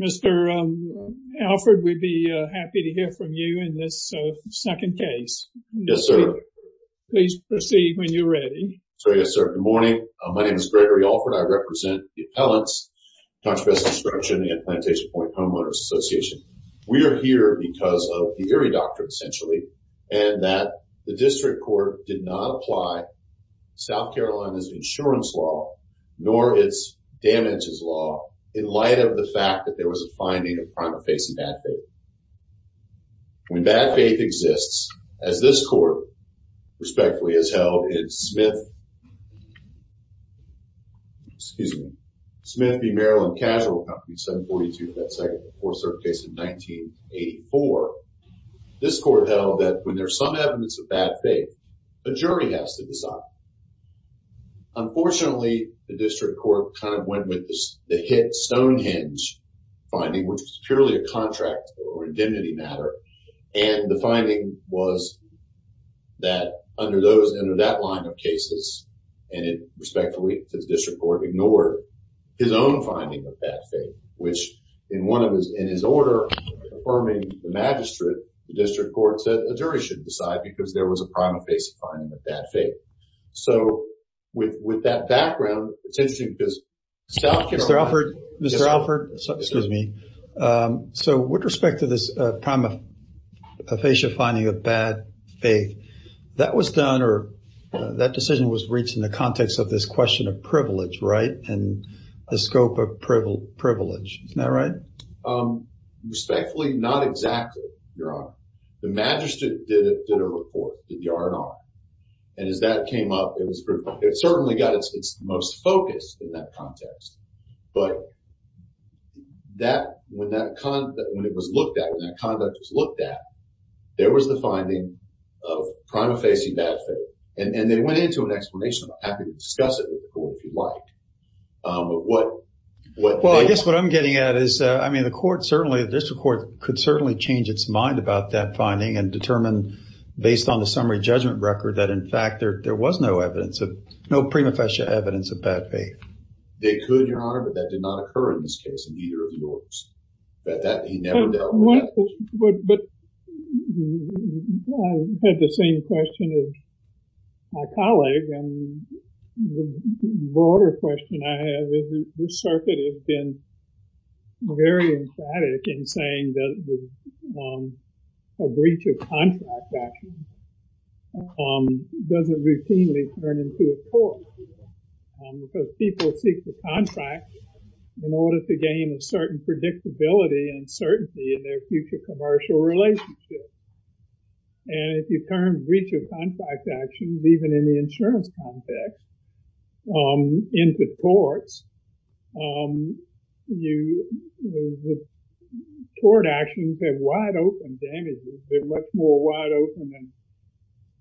Mr. Alford, we'd be happy to hear from you in this second case. Yes, sir. Please proceed when you're ready. So, yes, sir. Good morning. My name is Gregory Alford. I represent the Appellants, ContraVest Instruction, and Plantation Point Homeowners Association. We are here because of the Erie Doctrine, essentially, and that the District Court did not apply South Carolina's insurance law, nor its damages law, in light of the fact that there was a finding of primary face and bad faith. When bad faith exists, as this Court, respectfully, has held in Smith v. Maryland Casual Company, 742, that second before cert case in 1984, this Court held that when there's some evidence of bad faith, a jury has to decide. Unfortunately, the District Court kind of went with the hit Stonehenge finding, which is purely a contract or indemnity matter, and the finding was that under those, under that line of cases, and it, respectfully, the District Court ignored his own finding of bad faith, which in one of his, in his order, affirming the magistrate, the District Court said a jury should decide because there was a prima facie finding of bad faith. So, with that background, it's interesting because South Carolina... Mr. Alford, Mr. Alford, excuse me. So, with respect to this prima facie finding of bad faith, that was done, or that decision was reached in the context of this question of privilege, right? And the scope of privilege, isn't that right? Respectfully, not exactly, Your Honor. The magistrate did a report, did the R&R, and as that came up, it was, it certainly got its most focus in that context, but that, when that, when it was looked at, when that conduct was looked at, there was the finding of prima facie bad faith, and they went into an explanation. I'm happy to discuss it with the court. Certainly, the District Court could certainly change its mind about that finding and determine, based on the summary judgment record, that, in fact, there was no evidence of, no prima facie evidence of bad faith. They could, Your Honor, but that did not occur in this case, in either of the orders. But that, he never dealt with that. But I had the same question as my colleague, and the broader question I have is, this circuit has been very emphatic in saying that a breach of contract action doesn't routinely turn into a court, because people seek the contract in order to gain a certain predictability and certainty in their future commercial relationship. And if you turn breach of contract actions, even in the insurance context, into courts, the court actions have wide-open damages. They're much more wide-open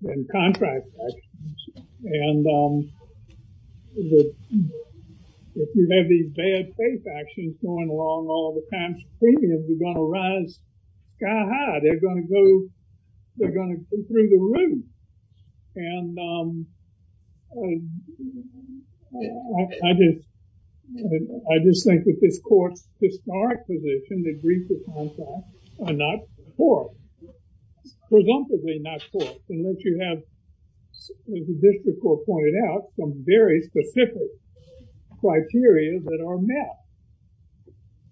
than contract actions. And if you have these bad faith actions going along all the time, premiums are going to rise sky-high. They're going to go through the roof. And I just think that this court's historic position that breach of contract are not courts, presumptively not courts, unless you have, as the District Court pointed out, some very specific criteria that are met.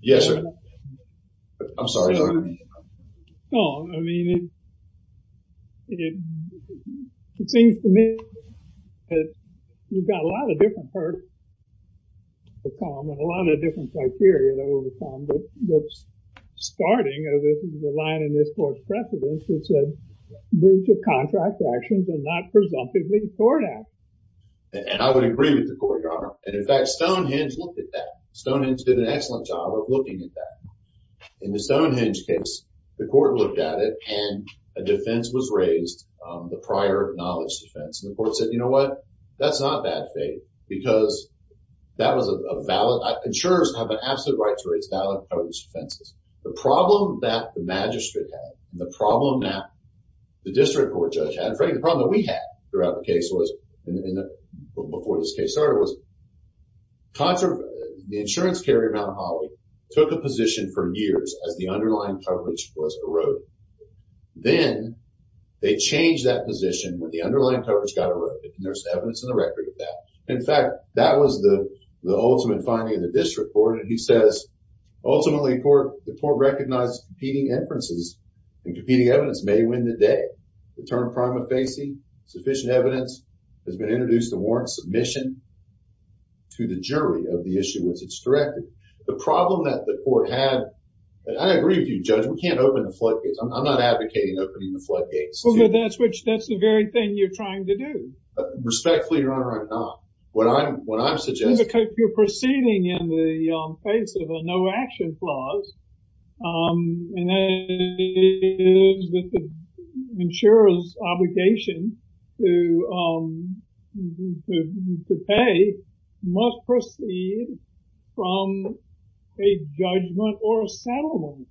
Yes, sir. I'm sorry. No, I mean, it seems to me that we've got a lot of different parts to come and a lot of different criteria that will come, but starting, as is the line in this court's precedence, is that contract actions are not presumptively court acts. And I would agree with the court, Your Honor. And in fact, Stonehenge looked at that. Stonehenge did an excellent job of looking at that. In the Stonehenge case, the court looked at it, and a defense was raised, the prior knowledge defense. And the court said, you know what? That's not bad faith, because that was a valid, insurers have an absolute right to raise valid knowledge defenses. The problem that the District Court judge had, frankly, the problem that we had throughout the case was, before this case started, was the insurance carrier, Mount Holly, took a position for years as the underlying coverage was eroded. Then they changed that position when the underlying coverage got eroded, and there's evidence in the record of that. In fact, that was the ultimate finding of the District Court, and he says, ultimately, the court recognized competing inferences and competing deterrent prima facie, sufficient evidence has been introduced to warrant submission to the jury of the issue, which it's corrected. The problem that the court had, and I agree with you, Judge, we can't open the floodgates. I'm not advocating opening the floodgates. Well, but that's the very thing you're trying to do. Respectfully, Your Honor, I'm not. What I'm suggesting... Because you're proceeding in the face of a no-action clause, and that is that the insurer's obligation to pay must proceed from a judgment or a settlement,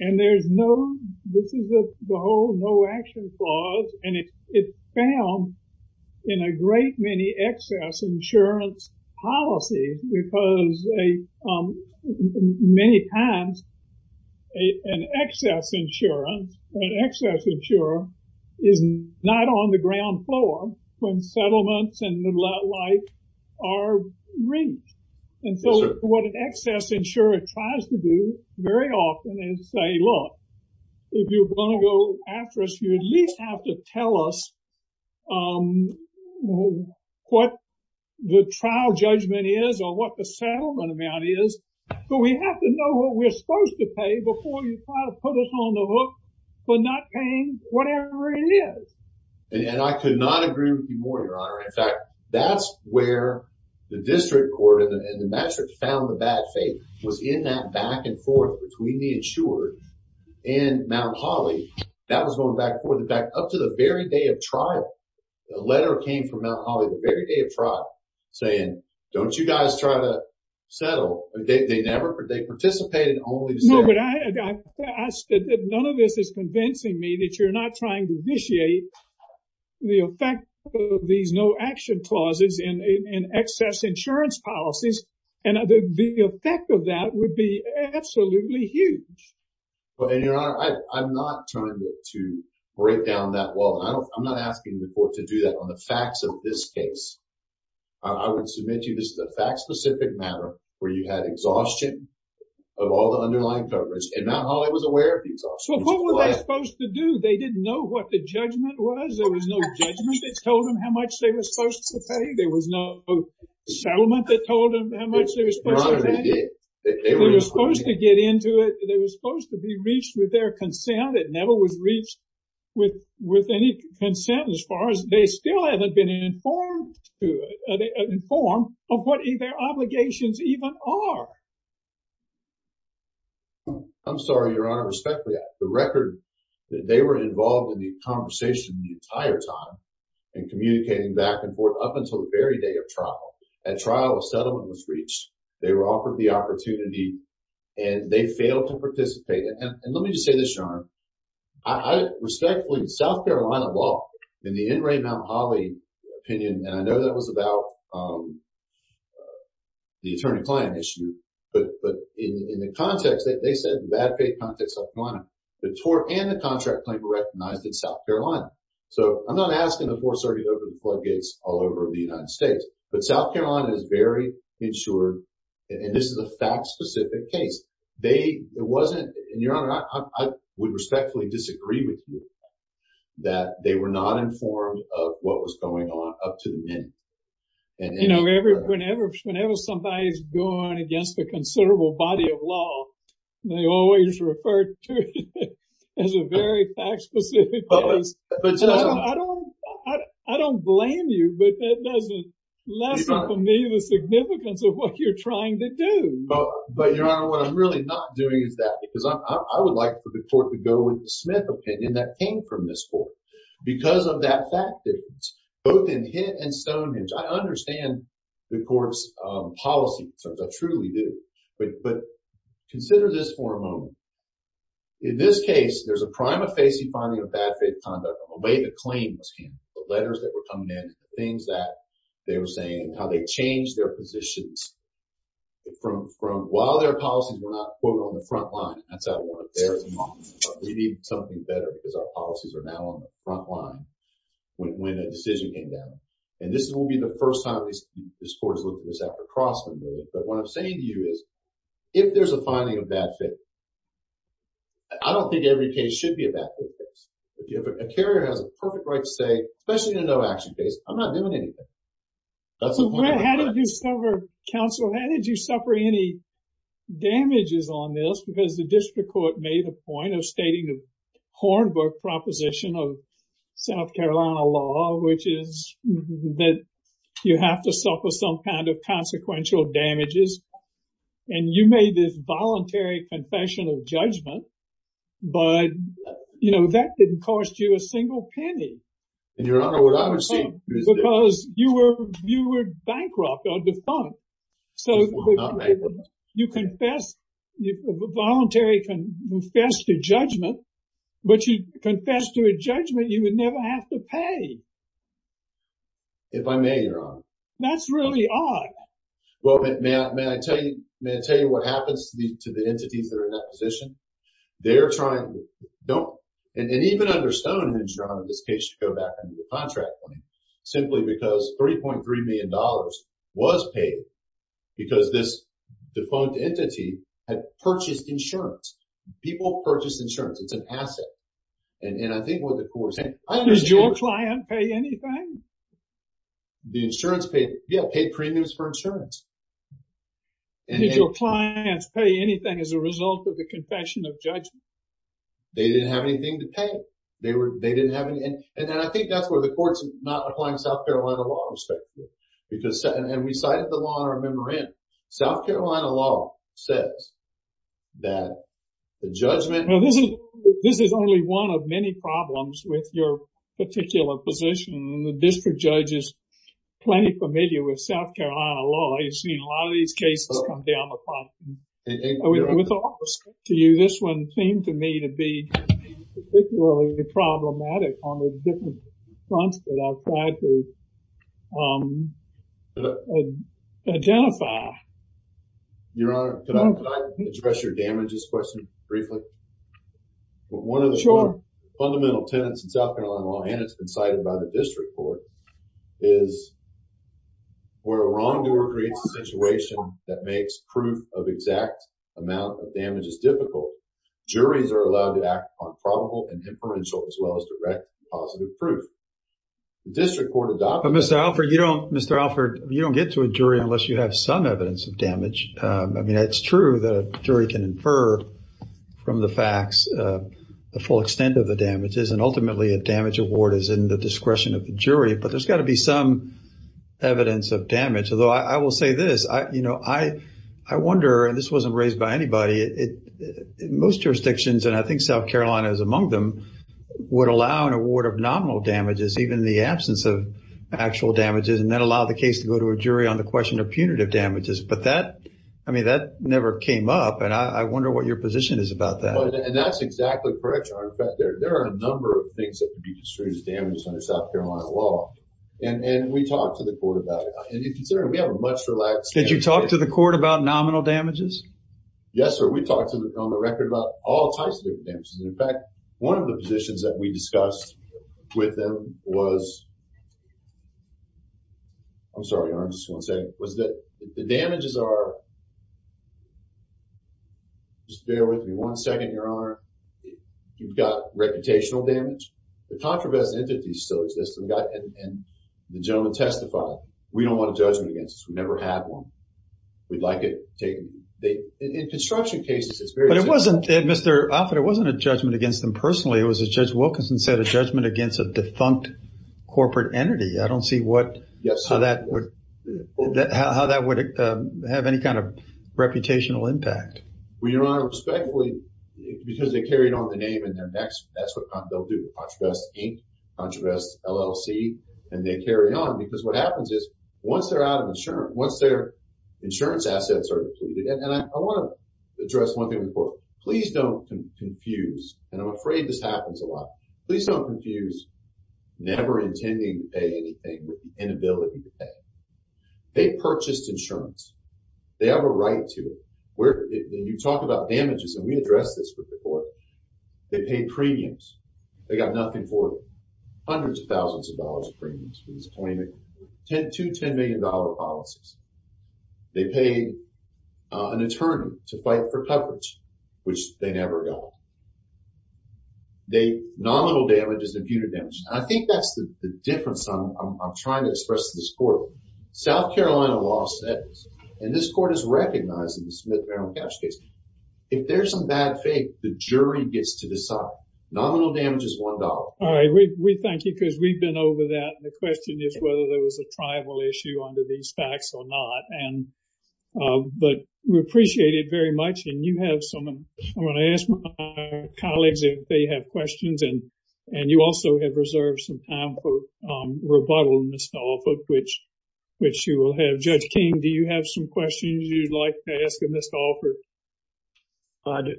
and there's no... This is the whole no-action clause, and it's found in a great many excess insurance policies, because many times, an excess insurer is not on the ground floor when settlements and the like are reached, and so what an excess insurer tries to do very often is say, look, if you want to go after us, you at least have to tell us what the trial judgment is or what the settlement amount is, but we have to know what we're supposed to pay before you try to put us on the hook for not paying whatever it is. And I could not agree with you more, Your Honor. In fact, that's where the district court and the magistrate found the bad faith was in that back and forth between the insured and Mount Holly. That was going back and very day of trial. A letter came from Mount Holly the very day of trial saying, don't you guys try to settle. They participated only to settle. No, but none of this is convincing me that you're not trying to initiate the effect of these no-action clauses in excess insurance policies, and the effect of that would be absolutely huge. Well, Your Honor, I'm not trying to break down that wall. I'm not asking the court to do that on the facts of this case. I would submit to you this is a fact-specific matter where you had exhaustion of all the underlying coverage, and Mount Holly was aware of the exhaustion. So what were they supposed to do? They didn't know what the judgment was. There was no judgment that told them how much they were supposed to pay. There was no settlement that told them how much they were supposed to pay. They were supposed to get into it. They were supposed to be reached with their consent. It never was reached with any consent as far as they still haven't been informed of what their obligations even are. I'm sorry, Your Honor. Respectfully, the record that they were involved in the conversation the entire time and communicating back and forth up until the very day of trial. At trial, a settlement was reached. They were offered the opportunity, and they failed to participate. Let me just say this, Your Honor. I respectfully, in South Carolina law, in the N. Ray Mount Holly opinion, and I know that was about the attorney-client issue, but in the context, they said in a bad-faith context in South Carolina, the tort and the contract claim were recognized in South Carolina. So I'm not asking the court to close the gates all over the United States, but South Carolina is very insured, and this is a fact-specific case. Your Honor, I would respectfully disagree with you that they were not informed of what was going on up to the minute. Whenever somebody's going against a considerable body of law, they always refer to it as a very fact-specific case. I don't blame you, but that doesn't lessen for me the significance of what you're trying to do. But, Your Honor, what I'm really not doing is that, because I would like for the court to go with the Smith opinion that came from this court because of that fact difference, both in Hitt and Stonehenge. I understand the court's policy concerns. I truly do. But consider this for a moment. In this case, there's a prima facie finding of bad-faith conduct on the way the claims came, the letters that were coming in, the things that they were saying, and how they changed their positions while their policies were not, quote, on the front line. That's not one of theirs. We need something better because our policies are now on the front line when a decision came down. And this will be the first time this court has looked at this across the movement. But what I'm saying to you is, if there's a finding of bad-faith, I don't think every case should be a bad-faith case. If a carrier has a perfect right to say, especially in a no-action case, I'm not doing anything. That's the point of the case. How did you suffer, counsel, how did you suffer any damages on this? Because the district court made a point of stating the Hornbook proposition of South Carolina law, which is that you have to have some kind of consequential damages. And you made this voluntary confessional judgment. But, you know, that didn't cost you a single penny. And, Your Honor, what I received was this. Because you were bankrupt or defunct. I was not bankrupt. You confessed, voluntary confessed to judgment, but you confessed to a judgment you would never have to pay. If I may, Your Honor. That's really odd. Well, may I tell you what happens to the entities that are in that position? They're trying, don't, and even under Stone and Enstrom, in this case, to go back into the contract point, simply because $3.3 million was paid because this defunct entity had purchased insurance. People purchase insurance. It's an asset. And I think what the court is saying, I understand. Does your client pay anything? The insurance paid, yeah, paid premiums for insurance. Did your clients pay anything as a result of the confession of judgment? They didn't have anything to pay. They were, they didn't have any. And then I think that's where the court's not applying South Carolina law, respectively. Because, and we cited the law in our memorandum. South Carolina law says that the judgment. This is only one of many problems with your particular position. The district judge is plenty familiar with South Carolina law. You've seen a lot of these cases come down the problem. With all respect to you, this one seemed to me to be particularly problematic on the different fronts that I've tried to identify. Your Honor, can I address your damages question briefly? One of the fundamental tenants in South Carolina law, and it's been cited by the district court, is where a wrongdoer creates a situation that makes proof of exact amount of damages difficult. Juries are allowed to act on probable and inferential as well as direct positive proof. The district court adopted- But Mr. Alford, you don't, Mr. Alford, you don't get to a jury unless you have some evidence of damage. I mean, it's true that a jury can infer from the facts the full extent of the damages. And ultimately, a damage award is in the discretion of the jury. But there's got to be some evidence of damage. Although I will say this, I wonder, and this wasn't raised by anybody, most jurisdictions, and I think South Carolina is among them, would allow an award of nominal damages even in the absence of actual damages. And that allowed the case to go to a jury on the question of punitive damages. But that, I mean, that never came up. And I wonder what your position is about that. And that's exactly correct, Your Honor. In fact, there are a number of things that could be construed as damages under South Carolina law. And we talked to the court about it. And considering we have a much relaxed- Did you talk to the court about nominal damages? Yes, sir. We talked on the record about all types of damages. In fact, one of the positions that we discussed with them was, I'm sorry, Your Honor, I just want to say, was that the damages are, just bear with me one second, Your Honor, you've got reputational damage. The controversial entities still exist. And the gentleman testified, we don't want a judgment against us. We never had one. We'd like it taken. In construction cases, it's very- But it wasn't, Mr. Offit, it wasn't a judgment against them personally. It was, as Judge Wilkinson said, a judgment against a defunct corporate entity. I don't see what- Yes. How that would have any kind of reputational impact. Well, Your Honor, respectfully, because they carried on the name and their next, that's what they'll do, Contravest Inc., Contravest LLC. And they carry on because what happens is, once they're out of insurance, once their insurance assets are depleted, and I want to address one thing before, and I'm afraid this happens a lot, please don't confuse never intending to pay anything with the inability to pay. They purchased insurance. They have a right to it. When you talk about damages, and we addressed this with the court, they paid premiums. They got nothing for it. Hundreds of thousands of dollars of premiums for these $20 million, $2, $10 million policies. They paid an attorney to fight for coverage, which they never got. Nominal damage is imputed damage. And I think that's the difference I'm trying to express to this court. South Carolina law says, and this court has recognized in the Smith-Merrill Caps case, if there's some bad faith, the jury gets to decide. Nominal damage is $1. All right, we thank you because we've been over that. The question is whether there was a tribal issue under these facts or not. But we appreciate it very much. And you have some, I'm going to ask my colleague, if they have questions. And you also have reserved some time for rebuttal, Mr. Alford, which you will have. Judge King, do you have some questions you'd like to ask of Mr. Alford?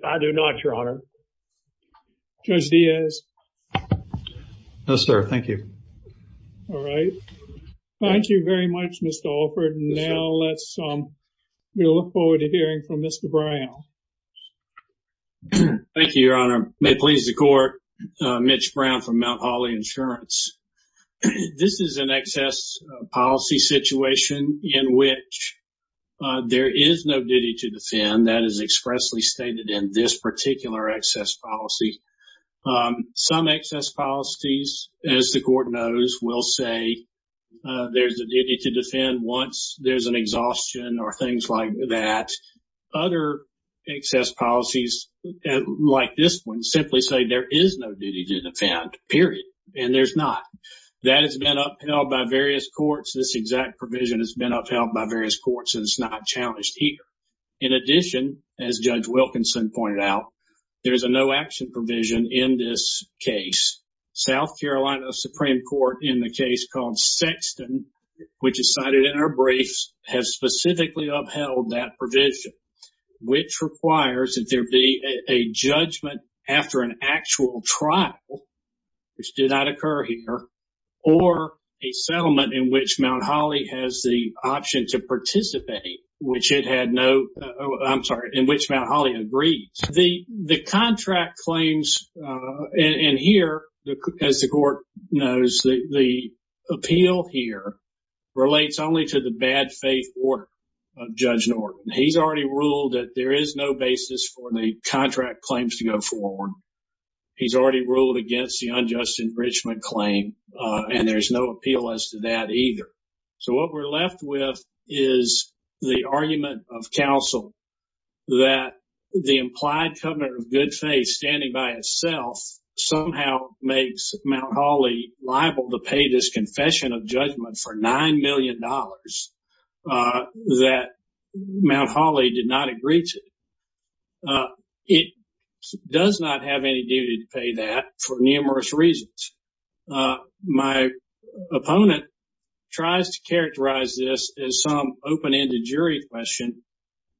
I do not, Your Honor. Judge Diaz? No, sir, thank you. All right. Thank you very much, Mr. Alford. And now let's, we look forward to hearing from Mr. Brown. Thank you, Your Honor. May it please the court. Mitch Brown from Mount Holly Insurance. This is an excess policy situation in which there is no duty to defend. That is expressly stated in this particular excess policy. Some excess policies, as the court knows, will say there's a duty to defend once there's an exhaustion or things like that. Other excess policies, like this one, simply say there is no duty to defend, period. And there's not. That has been upheld by various courts. This exact provision has been upheld by various courts and it's not challenged here. In addition, as Judge Wilkinson pointed out, there's a no action provision in this case. South Carolina Supreme Court in the case called Sexton, which is cited in our briefs, has specifically upheld that provision, which requires that there be a judgment after an actual trial, which did not occur here, or a settlement in which Mount Holly has the option to participate, which it had no, I'm sorry, in which Mount Holly agreed. The contract claims, and here, as the court knows, the appeal here relates only to the bad faith order of Judge Norton. He's already ruled that there is no basis for the contract claims to go forward. He's already ruled against the unjust enrichment claim and there's no appeal as to that either. So what we're left with is the argument of counsel that the implied covenant of good faith standing by itself somehow makes Mount Holly liable to pay this confession of judgment for $9 million that Mount Holly did not agree to. It does not have any duty to pay that for numerous reasons. My opponent tries to characterize this as some open-ended jury question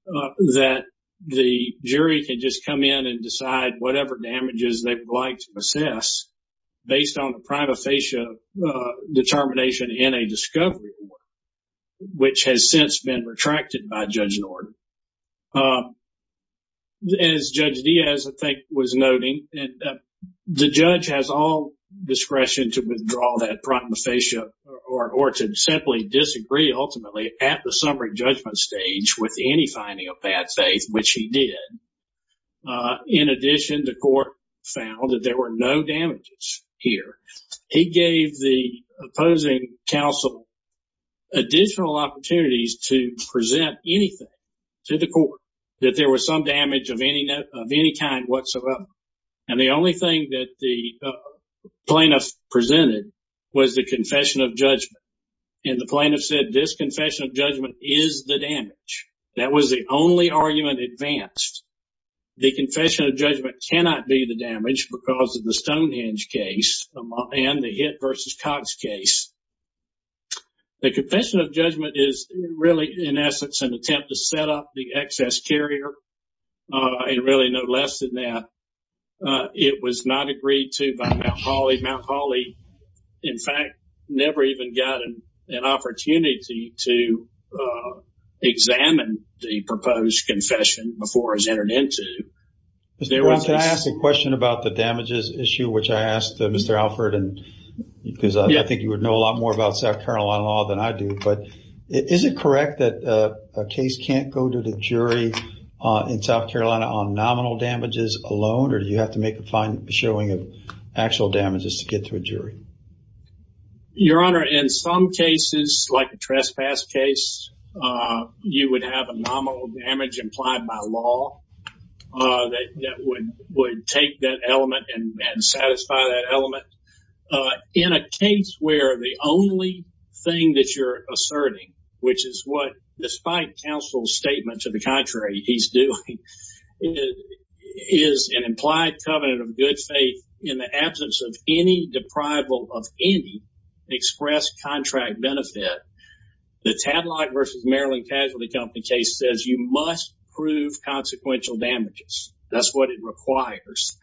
that the jury can just come in and decide whatever damages they would like to assess based on the prima facie determination in a discovery order which has since been retracted by Judge Norton. As Judge Diaz, I think, was noting, the judge has all discretion to withdraw that prima facie or to simply disagree ultimately at the summary judgment stage with any finding of bad faith, which he did. In addition, the court found that there were no damages here. He gave the opposing counsel additional opportunities to present anything to the court that there was some damage of any kind whatsoever. And the only thing that the plaintiff presented was the confession of judgment. And the plaintiff said, this confession of judgment is the damage. That was the only argument advanced. The confession of judgment cannot be the damage because of the Stonehenge case and the Hitt v. Cox case. The confession of judgment is really, in essence, an attempt to set up the excess carrier, and really no less than that. It was not agreed to by Mount Holly. Mount Holly, in fact, never even got an opportunity to examine the proposed confession before it was entered into. Did I ask a question about the damages issue, which I asked Mr. Alford, because I think you would know a lot more about South Carolina law than I do. But is it correct that a case can't go to the jury in South Carolina on nominal damages alone, or do you have to make a fine showing of actual damages to get to a jury? Your Honor, in some cases, like a trespass case, you would have a nominal damage implied by law that would take that element and satisfy that element. In a case where the only thing that you're asserting, which is what, despite counsel's statement, to the contrary, he's doing, is an implied covenant of good faith in the absence of any deprival of any express contract benefit, the Tadlock v. Maryland Casualty Company case says you must prove consequential damages. That's what it requires.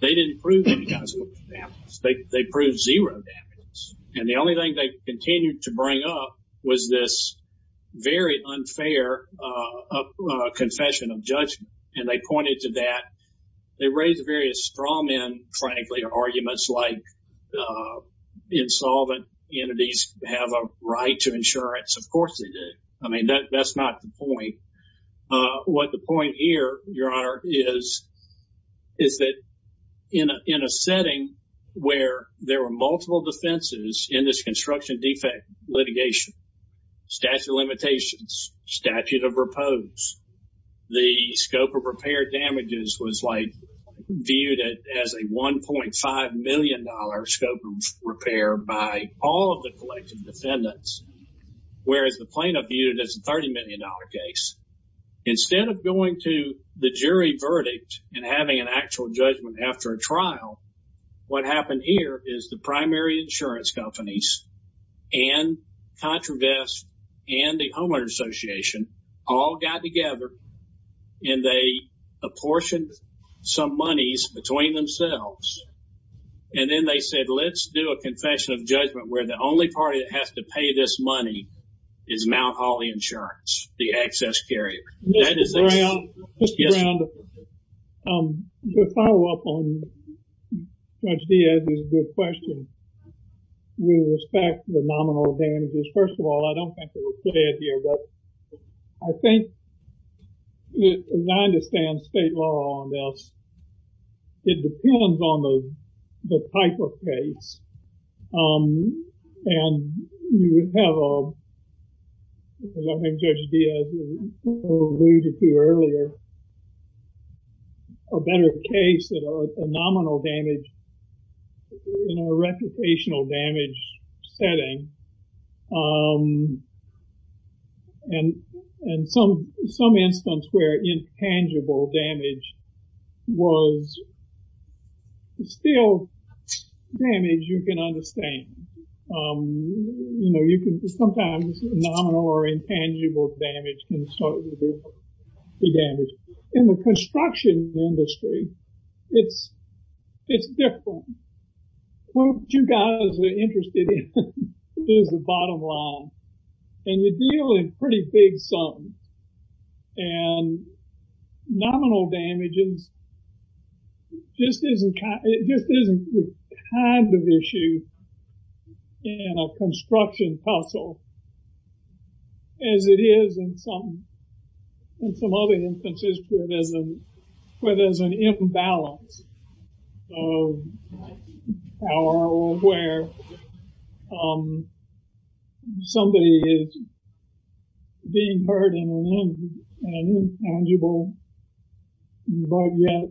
They didn't prove any consequential damages. They proved zero damages. And the only thing they continued to bring up was this very unfair confession of judgment. And they pointed to that. They raised various straw men, frankly, arguments like insolvent entities have a right to insurance. Of course they do. I mean, that's not the point. What the point here, Your Honor, is that in a setting where there were multiple defenses in this construction defect litigation, statute of limitations, statute of repose, the scope of repair damages was viewed as a $1.5 million scope of repair by all of the collective defendants, whereas the plaintiff viewed it as a $30 million case. Instead of going to the jury verdict and having an actual judgment after a trial, what happened here is the primary insurance companies and ContraVest and the Homeowner's Association all got together and they apportioned some monies between themselves. And then they said, let's do a confession of judgment where the only party that has to pay this money is Mount Holly Insurance, the access carrier. That is the case. Your Honor, to follow up on Judge Diaz's good question, with respect to the nominal damages, first of all, I don't think it was said here, but I think as I understand state law on this, it depends on the type of case. And you would have a, as I think Judge Diaz alluded to earlier, a better case that a nominal damage in a reputational damage setting and some instance where intangible damage was still damage you can understand. You know, you can sometimes nominal or intangible damage and so it would be damage. In the construction industry, it's different. What you guys are interested in is the bottom line and you deal in pretty big sums and nominal damages just isn't the kind of issue in a construction puzzle as it is in some other instances where there's an imbalance of power or where somebody is being hurt in an intangible but yet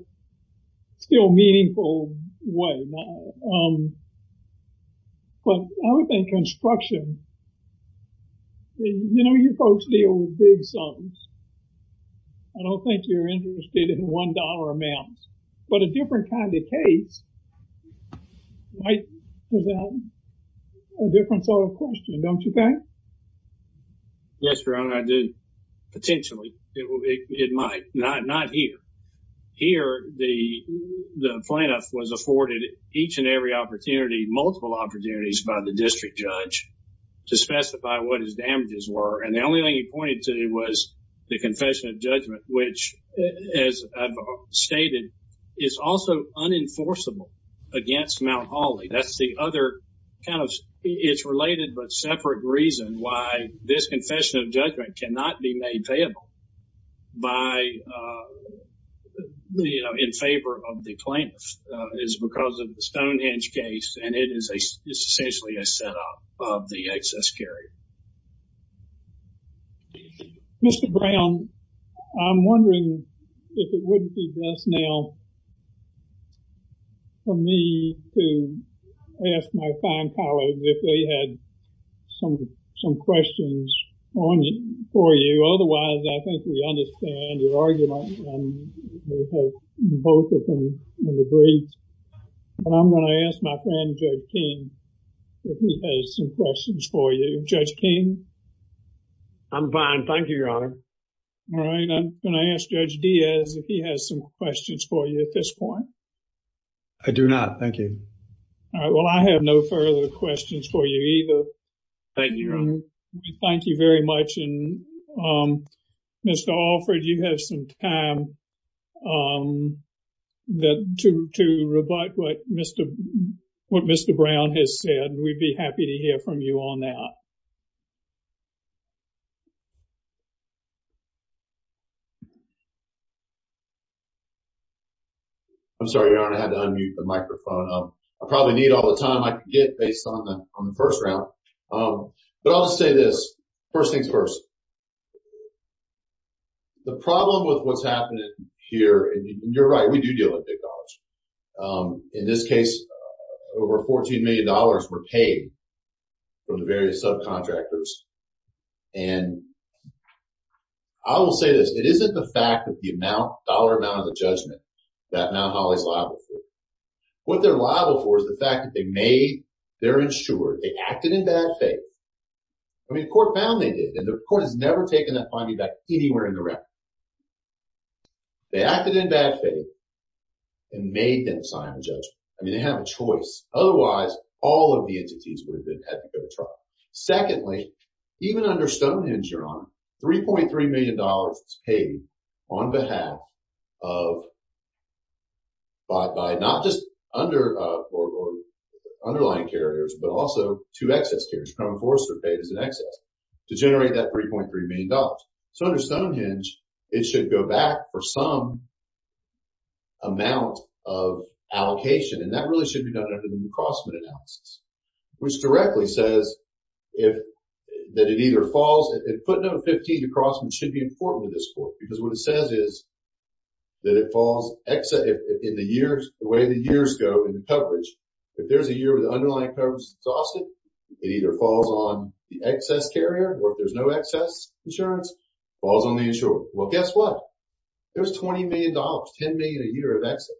still meaningful way. But I would think construction, you know, you folks deal with big sums. I don't think you're interested in $1 amounts, but a different kind of case might present a different sort of question, don't you think? Yes, Your Honor, I do. Potentially, it might. Not here. Here, the plaintiff was afforded each and every opportunity, multiple opportunities by the district judge to specify what his damages were. And the only thing he pointed to was the confession of judgment, which, as I've stated, is also unenforceable against Mount Holly. That's the other kind of it's related but separate reason why this confession of judgment cannot be made payable by, you know, in favor of the plaintiff is because of the Stonehenge case and it is essentially a setup of the excess carry. Mr. Brown, I'm wondering if it wouldn't be best now for me to ask my fine colleagues if they had some questions on it for you. Otherwise, I think we understand your argument both of them in the brief. But I'm going to ask my friend, Judge King, if he has some questions for you. Judge King? I'm fine. Thank you, Your Honor. All right. I'm going to ask Judge Diaz if he has some questions for you at this point. I do not. Thank you. All right. Well, I have no further questions for you either. Thank you, Your Honor. Thank you very much. And Mr. Alfred, you have some time to rebut what Mr. Brown has said. We'd be happy to hear from you on that. I'm sorry, Your Honor. I had to unmute the microphone. I probably need all the time I can get based on the first round. But I'll say this. First things first. The problem with what's happening here, and you're right, we do deal with big dollars. In this case, over $14 million were paid from the various subcontractors. And I will say this. It isn't the fact that the dollar amount of the judgment that Mount Holly's liable for. What they're liable for is the fact that they made, they're insured, they acted in bad faith. I mean, court found they did. The court has never taken that finding back anywhere in the record. They acted in bad faith and made them sign a judgment. I mean, they have a choice. Otherwise, all of the entities would have been had to go to trial. Secondly, even under Stonehenge, Your Honor, $3.3 million was paid on behalf of, by not just underlying carriers, but also two excess carriers. Crown enforcers are paid as an excess to generate that $3.3 million. So under Stonehenge, it should go back for some amount of allocation. And that really should be done under the New Crossman analysis, which directly says that it either falls, footnote 15, New Crossman should be important to this court because what it says is that it falls in the years, the way the years go in the coverage. If there's a year where the underlying coverage is exhausted, it either falls on the excess carrier or if there's no excess insurance, falls on the insurer. Well, guess what? There's $20 million, $10 million a year of excess.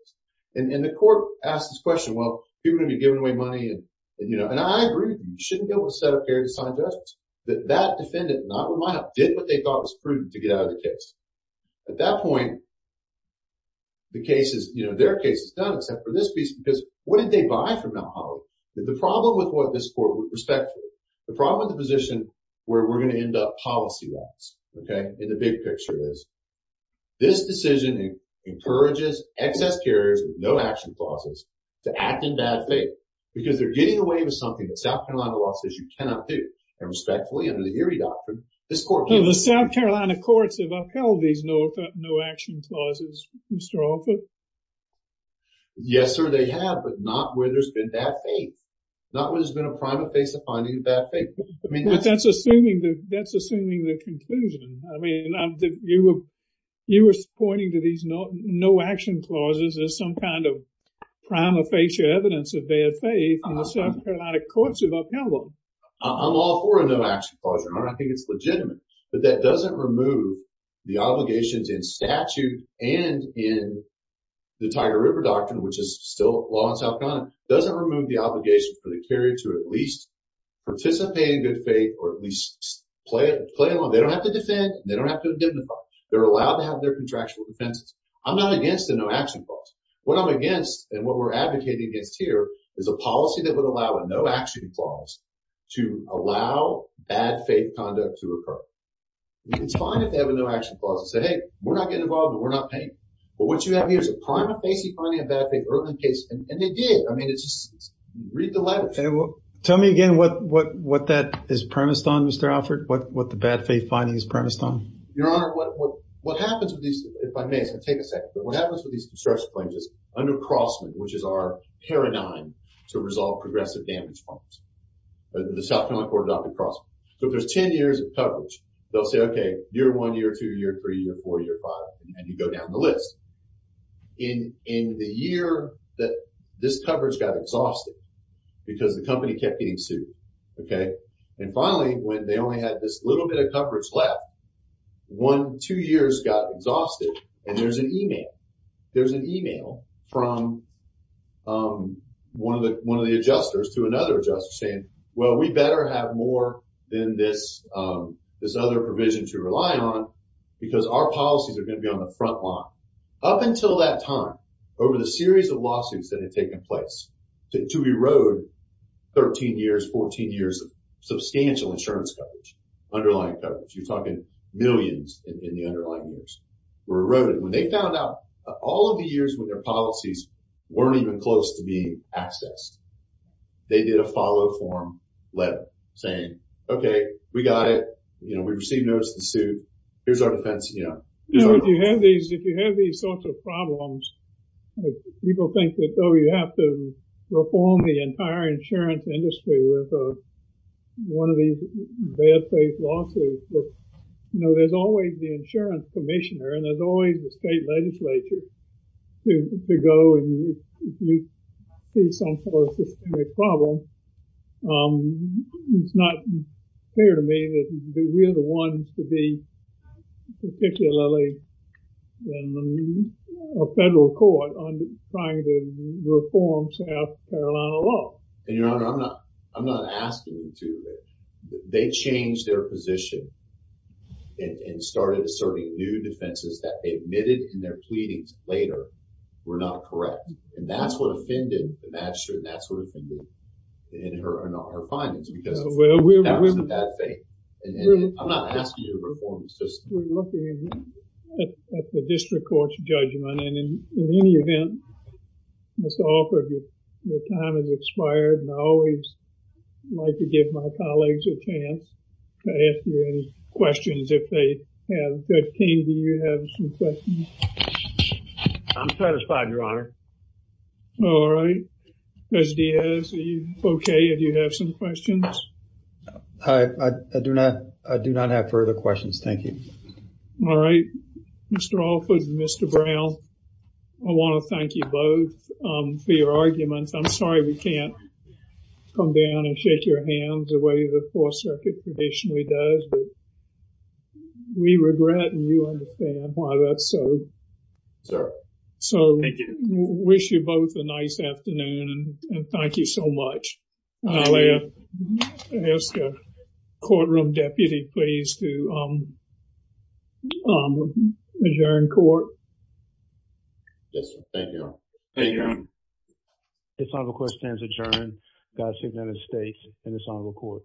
And the court asked this question, well, people are gonna be giving away money. And I agree, you shouldn't be able to set up a carrier to sign judgments. That defendant, not with my help, did what they thought was prudent to get out of the case. At that point, their case is done, except for this piece, because what did they buy from Mount Holloway? The problem with what this court would respect, the problem with the position where we're gonna end up policy-wise, okay, in the big picture is, this decision encourages excess carriers with no action clauses to act in bad faith, because they're getting away with something that South Carolina law says you cannot do. And respectfully, under the Erie Doctrine, this court- The South Carolina courts have upheld these no action clauses, Mr. Offit. Yes, sir, they have, but not where there's been bad faith, not where there's been a prima facie finding of bad faith. I mean, that's- But that's assuming the conclusion. I mean, you were pointing to these no action clauses as some kind of prima facie evidence of bad faith, and the South Carolina courts have upheld them. I'm all for a no action clause, and I think it's legitimate, but that doesn't remove the obligations in statute and in the Tiger River Doctrine, which is still law in South Carolina, doesn't remove the obligation for the carrier to at least participate in good faith or at least play along. They don't have to defend, and they don't have to indemnify. They're allowed to have their contractual defenses. I'm not against a no action clause. What I'm against, and what we're advocating against here, is a policy that would allow a no action clause to allow bad faith conduct to occur. And it's fine if they have a no action clause and say, hey, we're not getting involved, and we're not paying. But what you have here is a prima facie finding of bad faith early in the case, and they did. I mean, it's just, read the letters. And tell me again what that is premised on, Mr. Alford, what the bad faith finding is premised on. Your Honor, what happens with these, if I may, so take a second, but what happens with these construction claims is under Crossman, which is our paradigm to resolve progressive damage funds, the South Carolina court adopted Crossman. So if there's 10 years of coverage, they'll say, okay, year one, year two, year three, year four, year five, and you go down the list. In the year that this coverage got exhausted because the company kept getting sued, okay? And finally, when they only had this little bit of coverage left, one, two years got exhausted, and there's an email. There's an email from one of the adjusters to another adjuster saying, well, we better have more than this other provision to rely on because our policies are gonna be on the front line. Up until that time, over the series of lawsuits that had taken place to erode 13 years, 14 years of substantial insurance coverage, underlying coverage, you're talking millions in the underlying years were eroded. When they found out all of the years when their policies weren't even close to being accessed, they did a follow form letter saying, okay, we got it. You know, we received notice of the suit. Here's our defense, you know. You know, if you have these sorts of problems, people think that, oh, you have to reform the entire insurance industry with one of these bad faith lawsuits. You know, there's always the insurance commissioner and there's always the state legislature to go and you see some sort of systemic problem. It's not clear to me that we're the ones to be particularly in a federal court on trying to reform South Carolina law. And your honor, I'm not asking you to. They changed their position and started asserting new defenses that they admitted in their pleadings later were not correct. And that's what offended the magistrate and that's what offended her in her findings because of the facts of bad faith. I'm not asking you to reform the system. We're looking at the district court's judgment and in any event, Mr. Alford, your time has expired and I always like to give my colleagues a chance to ask you any questions if they have. Judge King, do you have some questions? I'm satisfied, your honor. All right. Judge Diaz, are you okay? Do you have some questions? I do not have further questions. Thank you. All right. Mr. Alford, Mr. Brown, I want to thank you both for your arguments. I'm sorry we can't come down and shake your hands the way the Fourth Circuit traditionally does. But we regret and you understand why that's so. Sir, thank you. So we wish you both a nice afternoon and thank you so much. I'll ask the courtroom deputy please to adjourn court. Yes, sir. Thank you, your honor. Thank you, your honor. This honorable court stands adjourned. God save the United States and this honorable court.